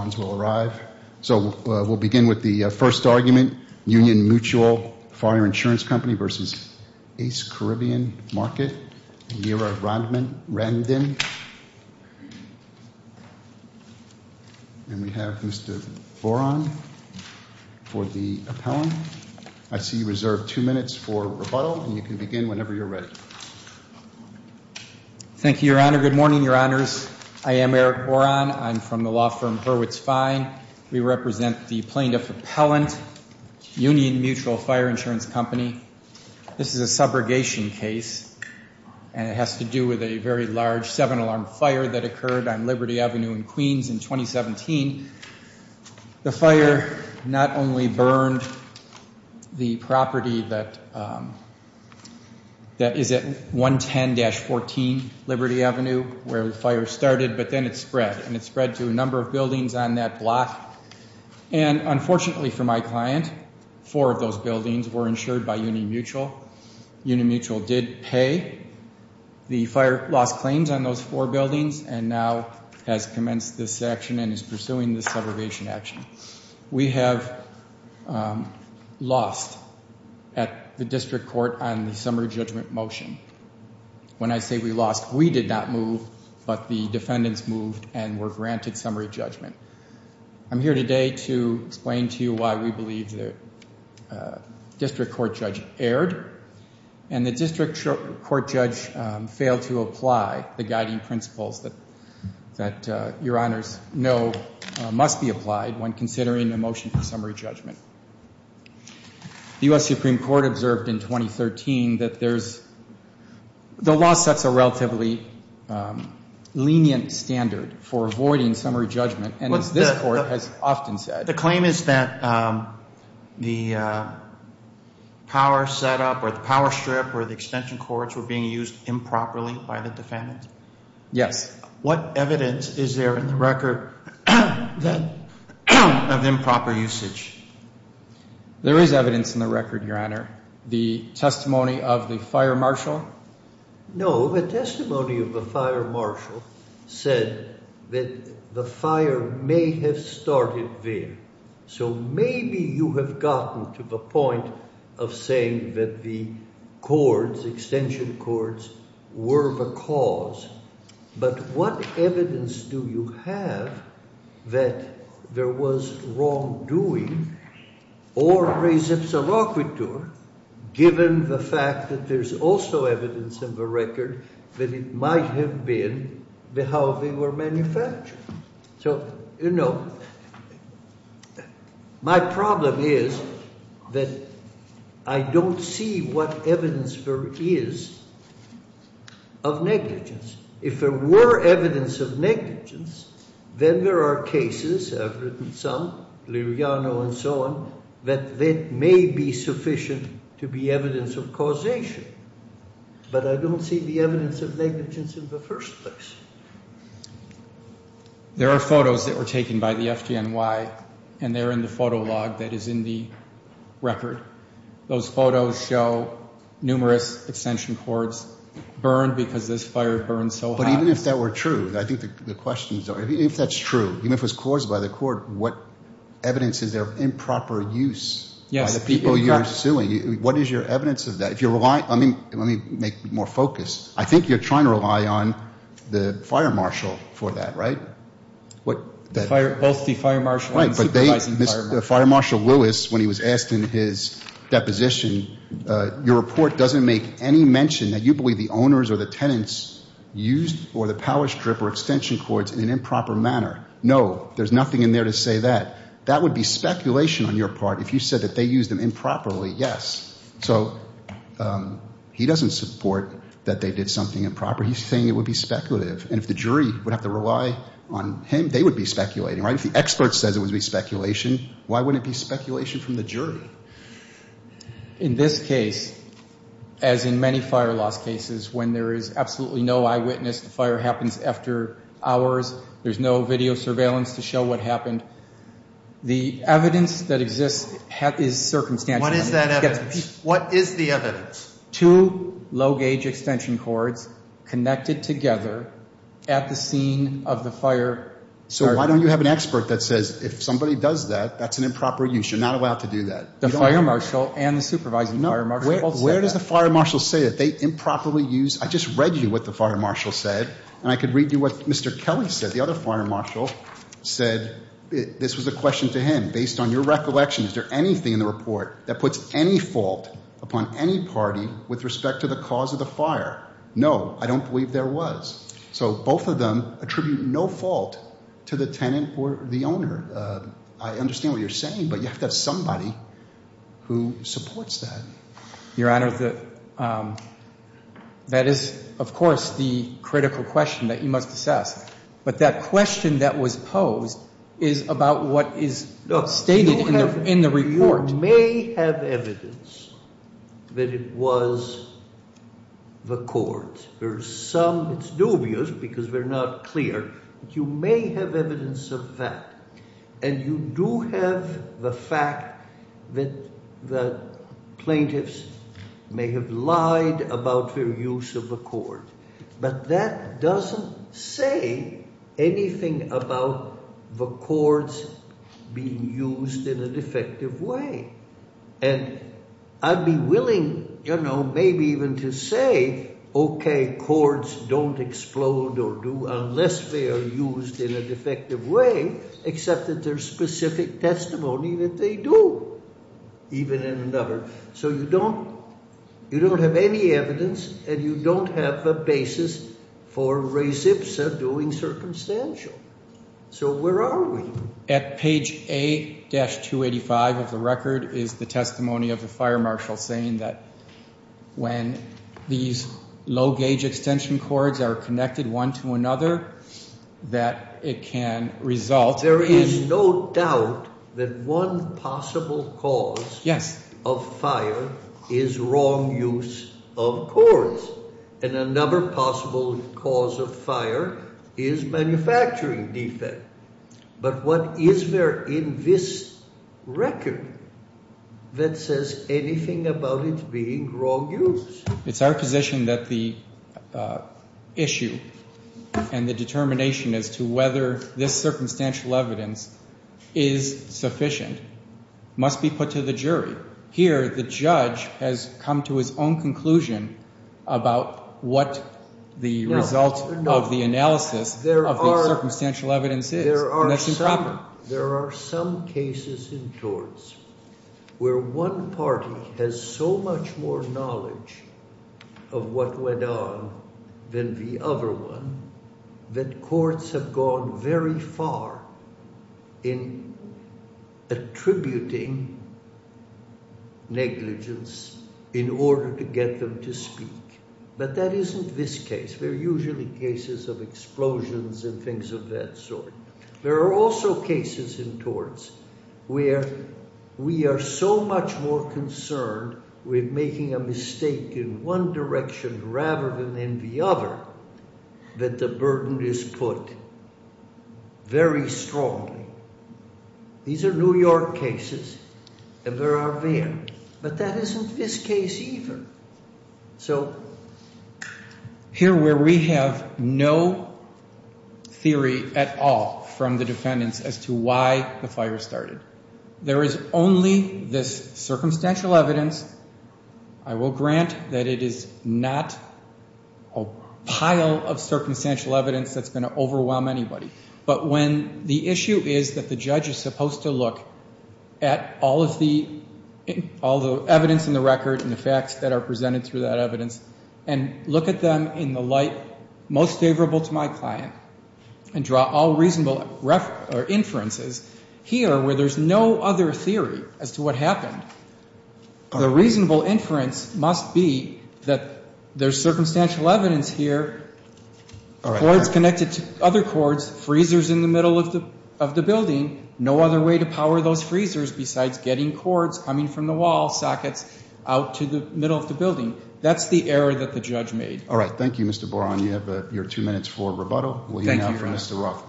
and we have Mr. Boron for the appellant. I see you reserve two minutes for rebuttal and you can begin whenever you're ready. Thank you, Your Honor. Good morning, Your Honors. I am Eric Boron. I'm from the law firm Hurwitz Law. We represent the plaintiff appellant, Union Mutual Fire Insurance Company. This is a subrogation case and it has to do with a very large seven-alarm fire that occurred on Liberty Avenue in Queens in 2017. The fire not only burned the property that is at 110-14 Liberty Avenue where the fire started, but then it spread. And it spread to a number of buildings on that block. And unfortunately for my client, four of those buildings were insured by Union Mutual. Union Mutual did pay the fire loss claims on those four buildings and now has commenced this action and is pursuing this subrogation action. We have lost at the district court on the summary judgment motion. When I say we lost, we did not move, but the defendants moved and were granted summary judgment. I'm here today to explain to you why we believe the district court judge erred and the district court judge failed to apply the guiding principles that Your Honors know must be applied when considering a motion for summary judgment. The U.S. Supreme Court observed in 2013 that there's, the law sets a relatively lenient standard for avoiding summary judgment. And as this court has often said. The claim is that the power setup or the power strip or the extension cords were being used improperly by the defendants? Yes. What evidence is there in the record of improper usage? There is evidence in the record, Your Honor. The testimony of the fire marshal? No, the testimony of the fire marshal said that the fire may have started there. So maybe you have gotten to the point of saying that the cords, extension cords, were the cause. But what evidence do you have that there was wrongdoing or a reciprocity given the fact that there's also evidence in the record that it might have been how they were manufactured? So, you know, my problem is that I don't see what evidence there is of negligence. If there were evidence of negligence, then there are cases, I've written some, Liriano and so on, that may be sufficient to be evidence of causation. But I don't see the evidence of negligence in the first place. There are photos that were taken by the FDNY, and they're in the photo log that is in the record. Those photos show numerous extension cords burned because this fire burned so hot. But even if that were true, I think the question is, if that's true, even if it was caused by the court, what evidence is there of improper use by the people you're suing? What is your evidence of that? Let me make more focus. I think you're trying to rely on the fire marshal for that, right? Both the fire marshal and the supervising fire marshal. Right, but Fire Marshal Lewis, when he was asked in his deposition, your report doesn't make any mention that you believe the owners or the tenants used or the power strip or extension cords in an improper manner. No, there's nothing in there to say that. That would be speculation on your part. If you said that they used them improperly, yes. So he doesn't support that they did something improper. He's saying it would be speculative. And if the jury would have to rely on him, they would be speculating, right? If the expert says it would be speculation, why wouldn't it be speculation from the jury? In this case, as in many fire loss cases, when there is absolutely no eyewitness, the fire happens after hours, there's no video surveillance to show what happened. The evidence that exists is circumstantial. What is that evidence? What is the evidence? Two low-gauge extension cords connected together at the scene of the fire. So why don't you have an expert that says if somebody does that, that's an improper use. You're not allowed to do that. The fire marshal and the supervising fire marshal both said that. Where does the fire marshal say that they improperly used? I just read you what the fire marshal said, and I could read you what Mr. Kelly said. The other fire marshal said this was a question to him. Based on your recollection, is there anything in the report that puts any fault upon any party with respect to the cause of the fire? No, I don't believe there was. So both of them attribute no fault to the tenant or the owner. I understand what you're saying, but you have to have somebody who supports that. Your Honor, that is, of course, the critical question that you must assess. But that question that was posed is about what is stated in the report. You may have evidence that it was the cords. There are some. It's dubious because we're not clear. But you may have evidence of that. And you do have the fact that the plaintiffs may have lied about their use of the cord. But that doesn't say anything about the cords being used in a defective way. And I'd be willing, you know, maybe even to say, okay, cords don't explode or do unless they are used in a defective way. Except that there's specific testimony that they do, even in another. So you don't have any evidence and you don't have a basis for res ipsa doing circumstantial. So where are we? At page A-285 of the record is the testimony of the fire marshal saying that when these low gauge extension cords are connected one to another, that it can result. There is no doubt that one possible cause. Yes. Of fire is wrong use of cords. And another possible cause of fire is manufacturing defect. But what is there in this record that says anything about it being wrong use? It's our position that the issue and the determination as to whether this circumstantial evidence is sufficient must be put to the jury. Here the judge has come to his own conclusion about what the result of the analysis of circumstantial evidence is. There are some cases in torts where one party has so much more knowledge of what went on than the other one that courts have gone very far in attributing negligence in order to get them to speak. But that isn't this case. They're usually cases of explosions and things of that sort. There are also cases in torts where we are so much more concerned with making a mistake in one direction rather than in the other that the burden is put very strongly. These are New York cases and there are there. But that isn't this case either. So here where we have no theory at all from the defendants as to why the fire started. There is only this circumstantial evidence. I will grant that it is not a pile of circumstantial evidence that's going to overwhelm anybody. But when the issue is that the judge is supposed to look at all of the evidence in the record and the facts that are presented through that evidence and look at them in the light most favorable to my client and draw all reasonable inferences. Here where there's no other theory as to what happened, the reasonable inference must be that there's circumstantial evidence here. Cords connected to other cords, freezers in the middle of the building. No other way to power those freezers besides getting cords coming from the wall sockets out to the middle of the building. That's the error that the judge made. All right. Thank you, Mr. Boron. You have your two minutes for rebuttal. Thank you, Your Honor. We'll hear now from Mr. Rothman.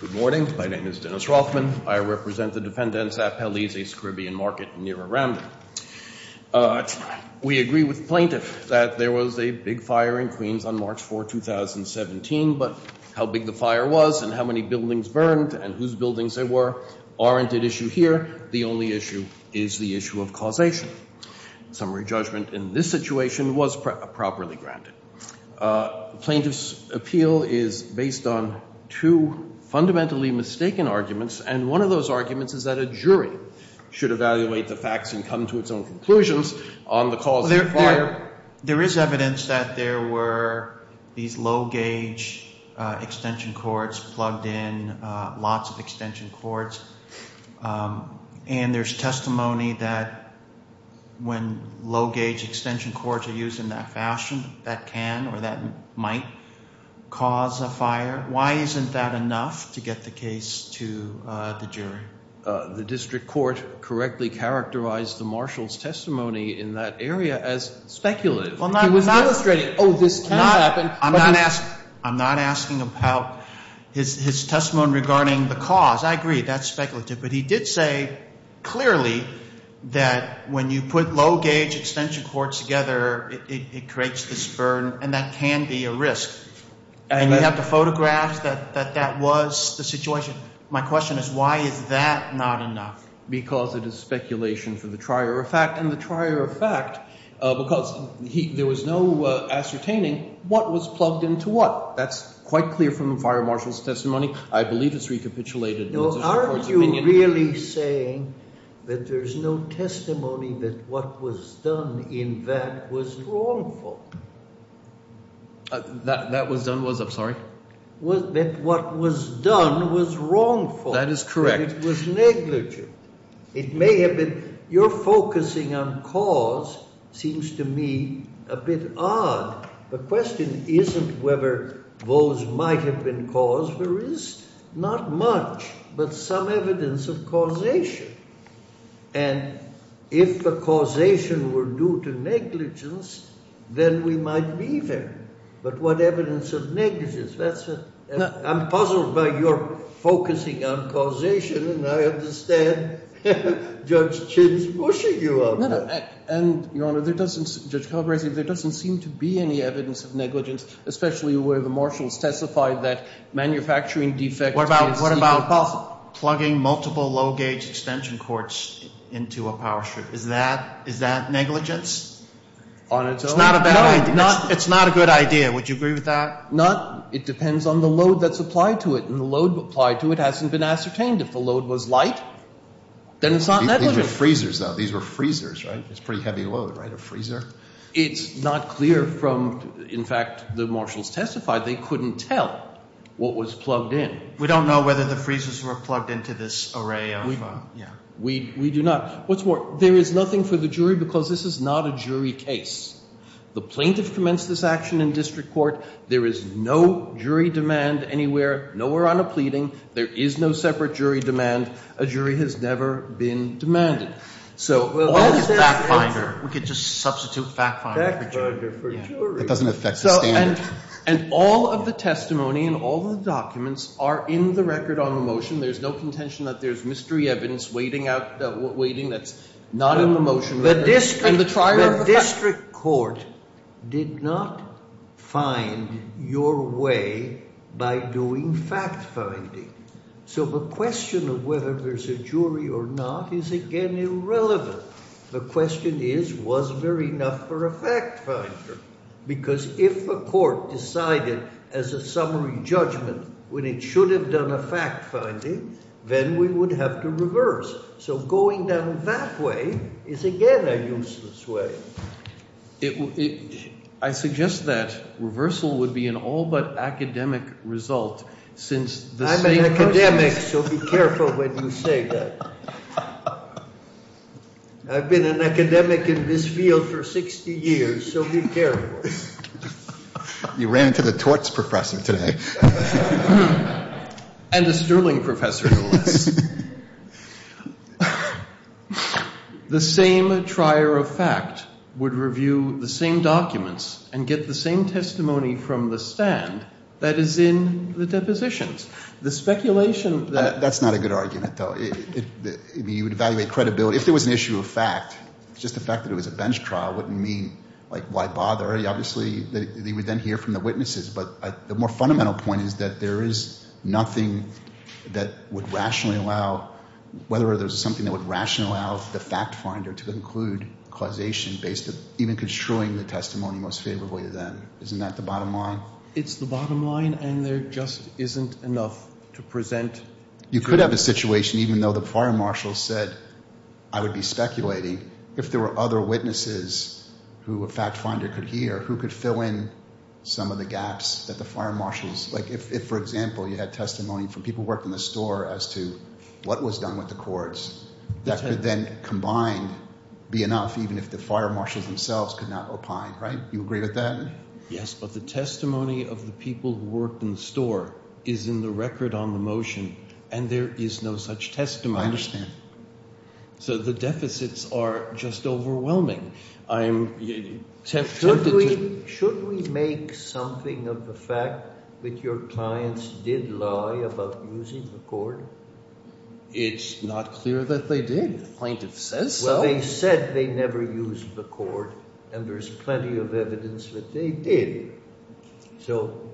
Good morning. My name is Dennis Rothman. I represent the defendants at Pelley's, a Caribbean market near Aranda. We agree with the plaintiff that there was a big fire in Queens on March 4, 2017. But how big the fire was and how many buildings burned and whose buildings there were aren't at issue here. The only issue is the issue of causation. Summary judgment in this situation was properly granted. The plaintiff's appeal is based on two fundamentally mistaken arguments. And one of those arguments is that a jury should evaluate the facts and come to its own conclusions on the cause of the fire. There is evidence that there were these low-gauge extension cords plugged in, lots of extension cords. And there's testimony that when low-gauge extension cords are used in that fashion, that can or that might cause a fire. Why isn't that enough to get the case to the jury? The district court correctly characterized the marshal's testimony in that area as speculative. He was not illustrating, oh, this can happen. I'm not asking about his testimony regarding the cause. I agree, that's speculative. But he did say clearly that when you put low-gauge extension cords together, it creates this burn and that can be a risk. And you have the photographs that that was the situation. My question is why is that not enough? Because it is speculation for the trier of fact. And the trier of fact, because there was no ascertaining what was plugged into what. That's quite clear from the fire marshal's testimony. I believe it's recapitulated in the district court's opinion. No, aren't you really saying that there's no testimony that what was done in that was wrongful? That was done was? I'm sorry? That what was done was wrongful. That is correct. That it was negligent. It may have been. Your focusing on cause seems to me a bit odd. The question isn't whether those might have been caused. There is not much, but some evidence of causation. And if the causation were due to negligence, then we might be there. But what evidence of negligence? I'm puzzled by your focusing on causation, and I understand Judge Chin's pushing you on that. And, Your Honor, there doesn't, Judge Calabresi, there doesn't seem to be any evidence of negligence, especially where the marshal testified that manufacturing defects. What about plugging multiple low-gauge extension cords into a power strip? Is that negligence? On its own? It's not a good idea. Would you agree with that? Not. It depends on the load that's applied to it. And the load applied to it hasn't been ascertained. If the load was light, then it's not negligent. These are freezers, though. These were freezers, right? It's a pretty heavy load, right? A freezer? It's not clear from, in fact, the marshals testified they couldn't tell what was plugged in. We don't know whether the freezers were plugged into this array of, yeah. We do not. What's more, there is nothing for the jury because this is not a jury case. The plaintiff commenced this action in district court. There is no jury demand anywhere, nowhere on a pleading. There is no separate jury demand. A jury has never been demanded. So all this fact-finding, we could just substitute fact-finding for jury. That doesn't affect the standard. And all of the testimony and all the documents are in the record on the motion. There's no contention that there's mystery evidence waiting that's not in the motion. The district court did not find your way by doing fact-finding. So the question of whether there's a jury or not is, again, irrelevant. The question is, was there enough for a fact-finder? Because if a court decided as a summary judgment when it should have done a fact-finding, then we would have to reverse. So going down that way is, again, a useless way. I suggest that reversal would be an all-but-academic result since the same person — I'm an academic, so be careful when you say that. I've been an academic in this field for 60 years, so be careful. You ran into the torts professor today. And the Sterling professor, no less. The same trier of fact would review the same documents and get the same testimony from the stand that is in the depositions. The speculation that — That's not a good argument, though. I mean, you would evaluate credibility. If there was an issue of fact, just the fact that it was a bench trial wouldn't mean, like, why bother. Obviously, they would then hear from the witnesses. But the more fundamental point is that there is nothing that would rationally allow — whether there's something that would rationally allow the fact-finder to conclude causation based on even construing the testimony most favorably to them. Isn't that the bottom line? It's the bottom line, and there just isn't enough to present. You could have a situation, even though the prior marshal said I would be speculating, if there were other witnesses who a fact-finder could hear, who could fill in some of the gaps that the prior marshals — like, if, for example, you had testimony from people who worked in the store as to what was done with the courts, that could then combined be enough even if the prior marshals themselves could not opine, right? You agree with that? Yes, but the testimony of the people who worked in the store is in the record on the motion, and there is no such testimony. I understand. So the deficits are just overwhelming. I'm tempted to — Should we make something of the fact that your clients did lie about using the cord? It's not clear that they did. The plaintiff says so. Well, they said they never used the cord, and there's plenty of evidence that they did. So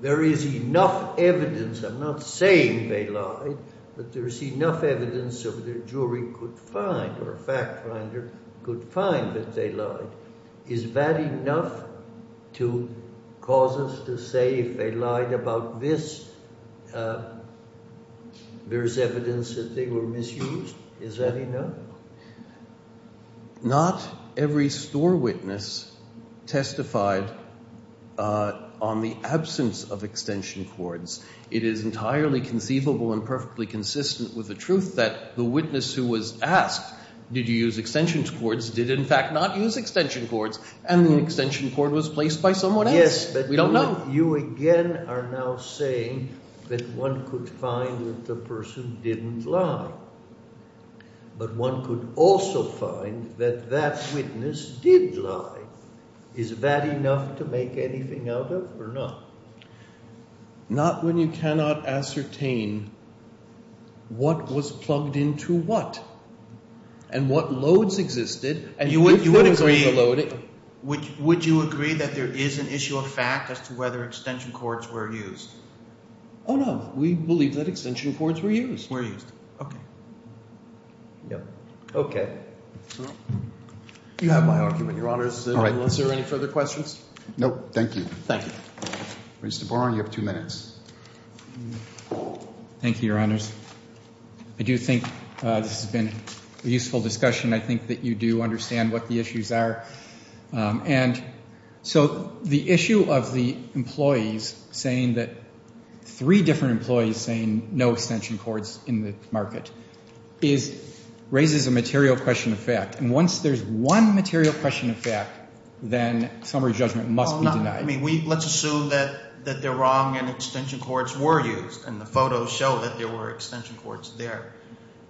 there is enough evidence — I'm not saying they lied, but there's enough evidence that a jury could find or a fact-finder could find that they lied. Is that enough to cause us to say if they lied about this, there's evidence that they were misused? Is that enough? Not every store witness testified on the absence of extension cords. It is entirely conceivable and perfectly consistent with the truth that the witness who was asked, did you use extension cords, did in fact not use extension cords, and the extension cord was placed by someone else. Yes, but you again are now saying that one could find that the person didn't lie. But one could also find that that witness did lie. Is that enough to make anything out of or not? Not when you cannot ascertain what was plugged into what and what loads existed. You would agree that there is an issue of fact as to whether extension cords were used. Oh, no. We believe that extension cords were used. Okay. You have my argument, Your Honors. All right. Are there any further questions? No, thank you. Thank you. Mr. Barron, you have two minutes. Thank you, Your Honors. I do think this has been a useful discussion. I think that you do understand what the issues are. And so the issue of the employees saying that three different employees saying no extension cords in the market raises a material question of fact. And once there's one material question of fact, then summary judgment must be denied. Let's assume that they're wrong and extension cords were used, and the photos show that there were extension cords there.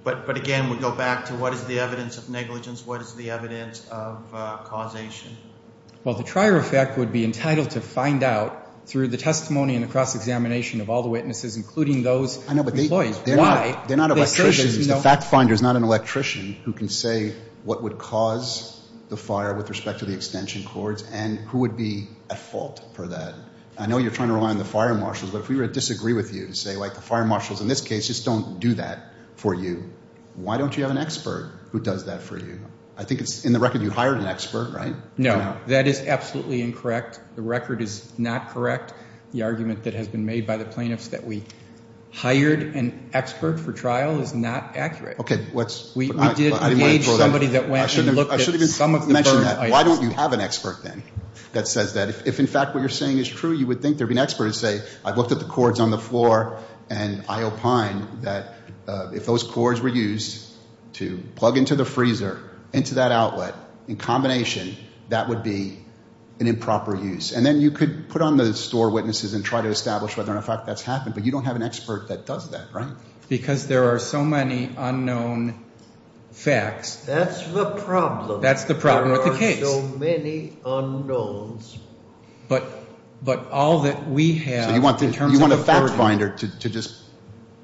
But, again, we go back to what is the evidence of negligence? What is the evidence of causation? Well, the trier effect would be entitled to find out through the testimony and the cross-examination of all the witnesses, including those employees. I know, but they're not electricians. The fact finder is not an electrician who can say what would cause the fire with respect to the extension cords and who would be at fault for that. I know you're trying to rely on the fire marshals, but if we were to disagree with you and say, like, the fire marshals in this case just don't do that for you, why don't you have an expert who does that for you? I think it's in the record you hired an expert, right? No. That is absolutely incorrect. The record is not correct. The argument that has been made by the plaintiffs that we hired an expert for trial is not accurate. Okay. We did engage somebody that went and looked at some of the burn items. Why don't you have an expert then that says that? If, in fact, what you're saying is true, you would think there would be an expert who would say, I've looked at the cords on the floor, and I opine that if those cords were used to plug into the freezer, into that outlet, in combination, that would be an improper use. And then you could put on the store witnesses and try to establish whether or not that's happened, but you don't have an expert that does that, right? Because there are so many unknown facts. That's the problem. That's the problem with the case. There are so many unknowns. But all that we have in terms of the burden. So you want a fact finder to just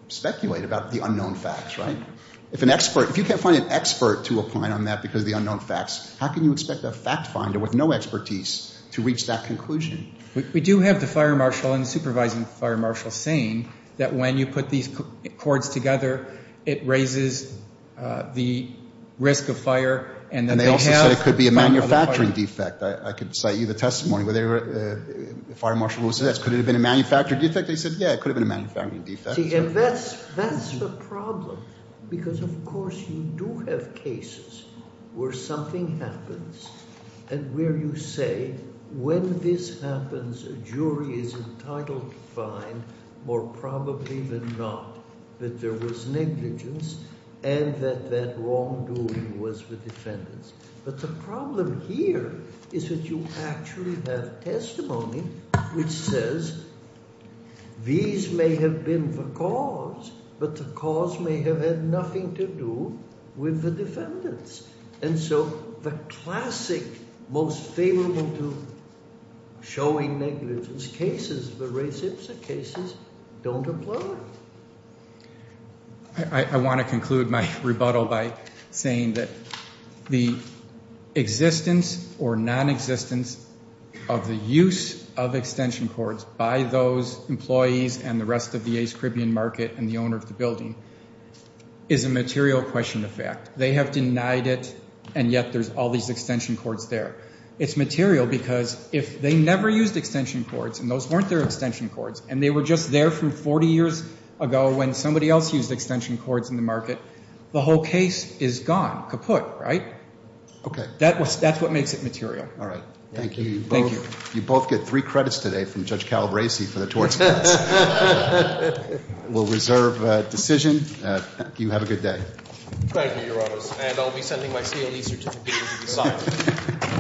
speculate about the unknown facts, right? If you can't find an expert to opine on that because of the unknown facts, how can you expect a fact finder with no expertise to reach that conclusion? We do have the fire marshal and the supervising fire marshal saying that when you put these cords together, it raises the risk of fire, and then they have the fire marshal. And they also said it could be a manufacturing defect. I could cite you the testimony. Fire marshal will say that. Could it have been a manufacturing defect? They said, yeah, it could have been a manufacturing defect. That's the problem because, of course, you do have cases where something happens and where you say when this happens, a jury is entitled to find more probably than not that there was negligence and that that wrongdoing was the defendant's. But the problem here is that you actually have testimony which says these may have been the cause, but the cause may have had nothing to do with the defendants. And so the classic most favorable to showing negligence cases, the race ipsa cases, don't apply. I want to conclude my rebuttal by saying that the existence or nonexistence of the use of extension cords by those employees and the rest of the East Caribbean market and the owner of the building is a material question of fact. They have denied it, and yet there's all these extension cords there. It's material because if they never used extension cords and those weren't their extension cords and they were just there from 40 years ago when somebody else used extension cords in the market, the whole case is gone, kaput, right? Okay. That's what makes it material. All right. Thank you. Thank you. You both get three credits today from Judge Calabresi for the tort case. We'll reserve decision. You have a good day. And I'll be sending my CLE certificate to decide.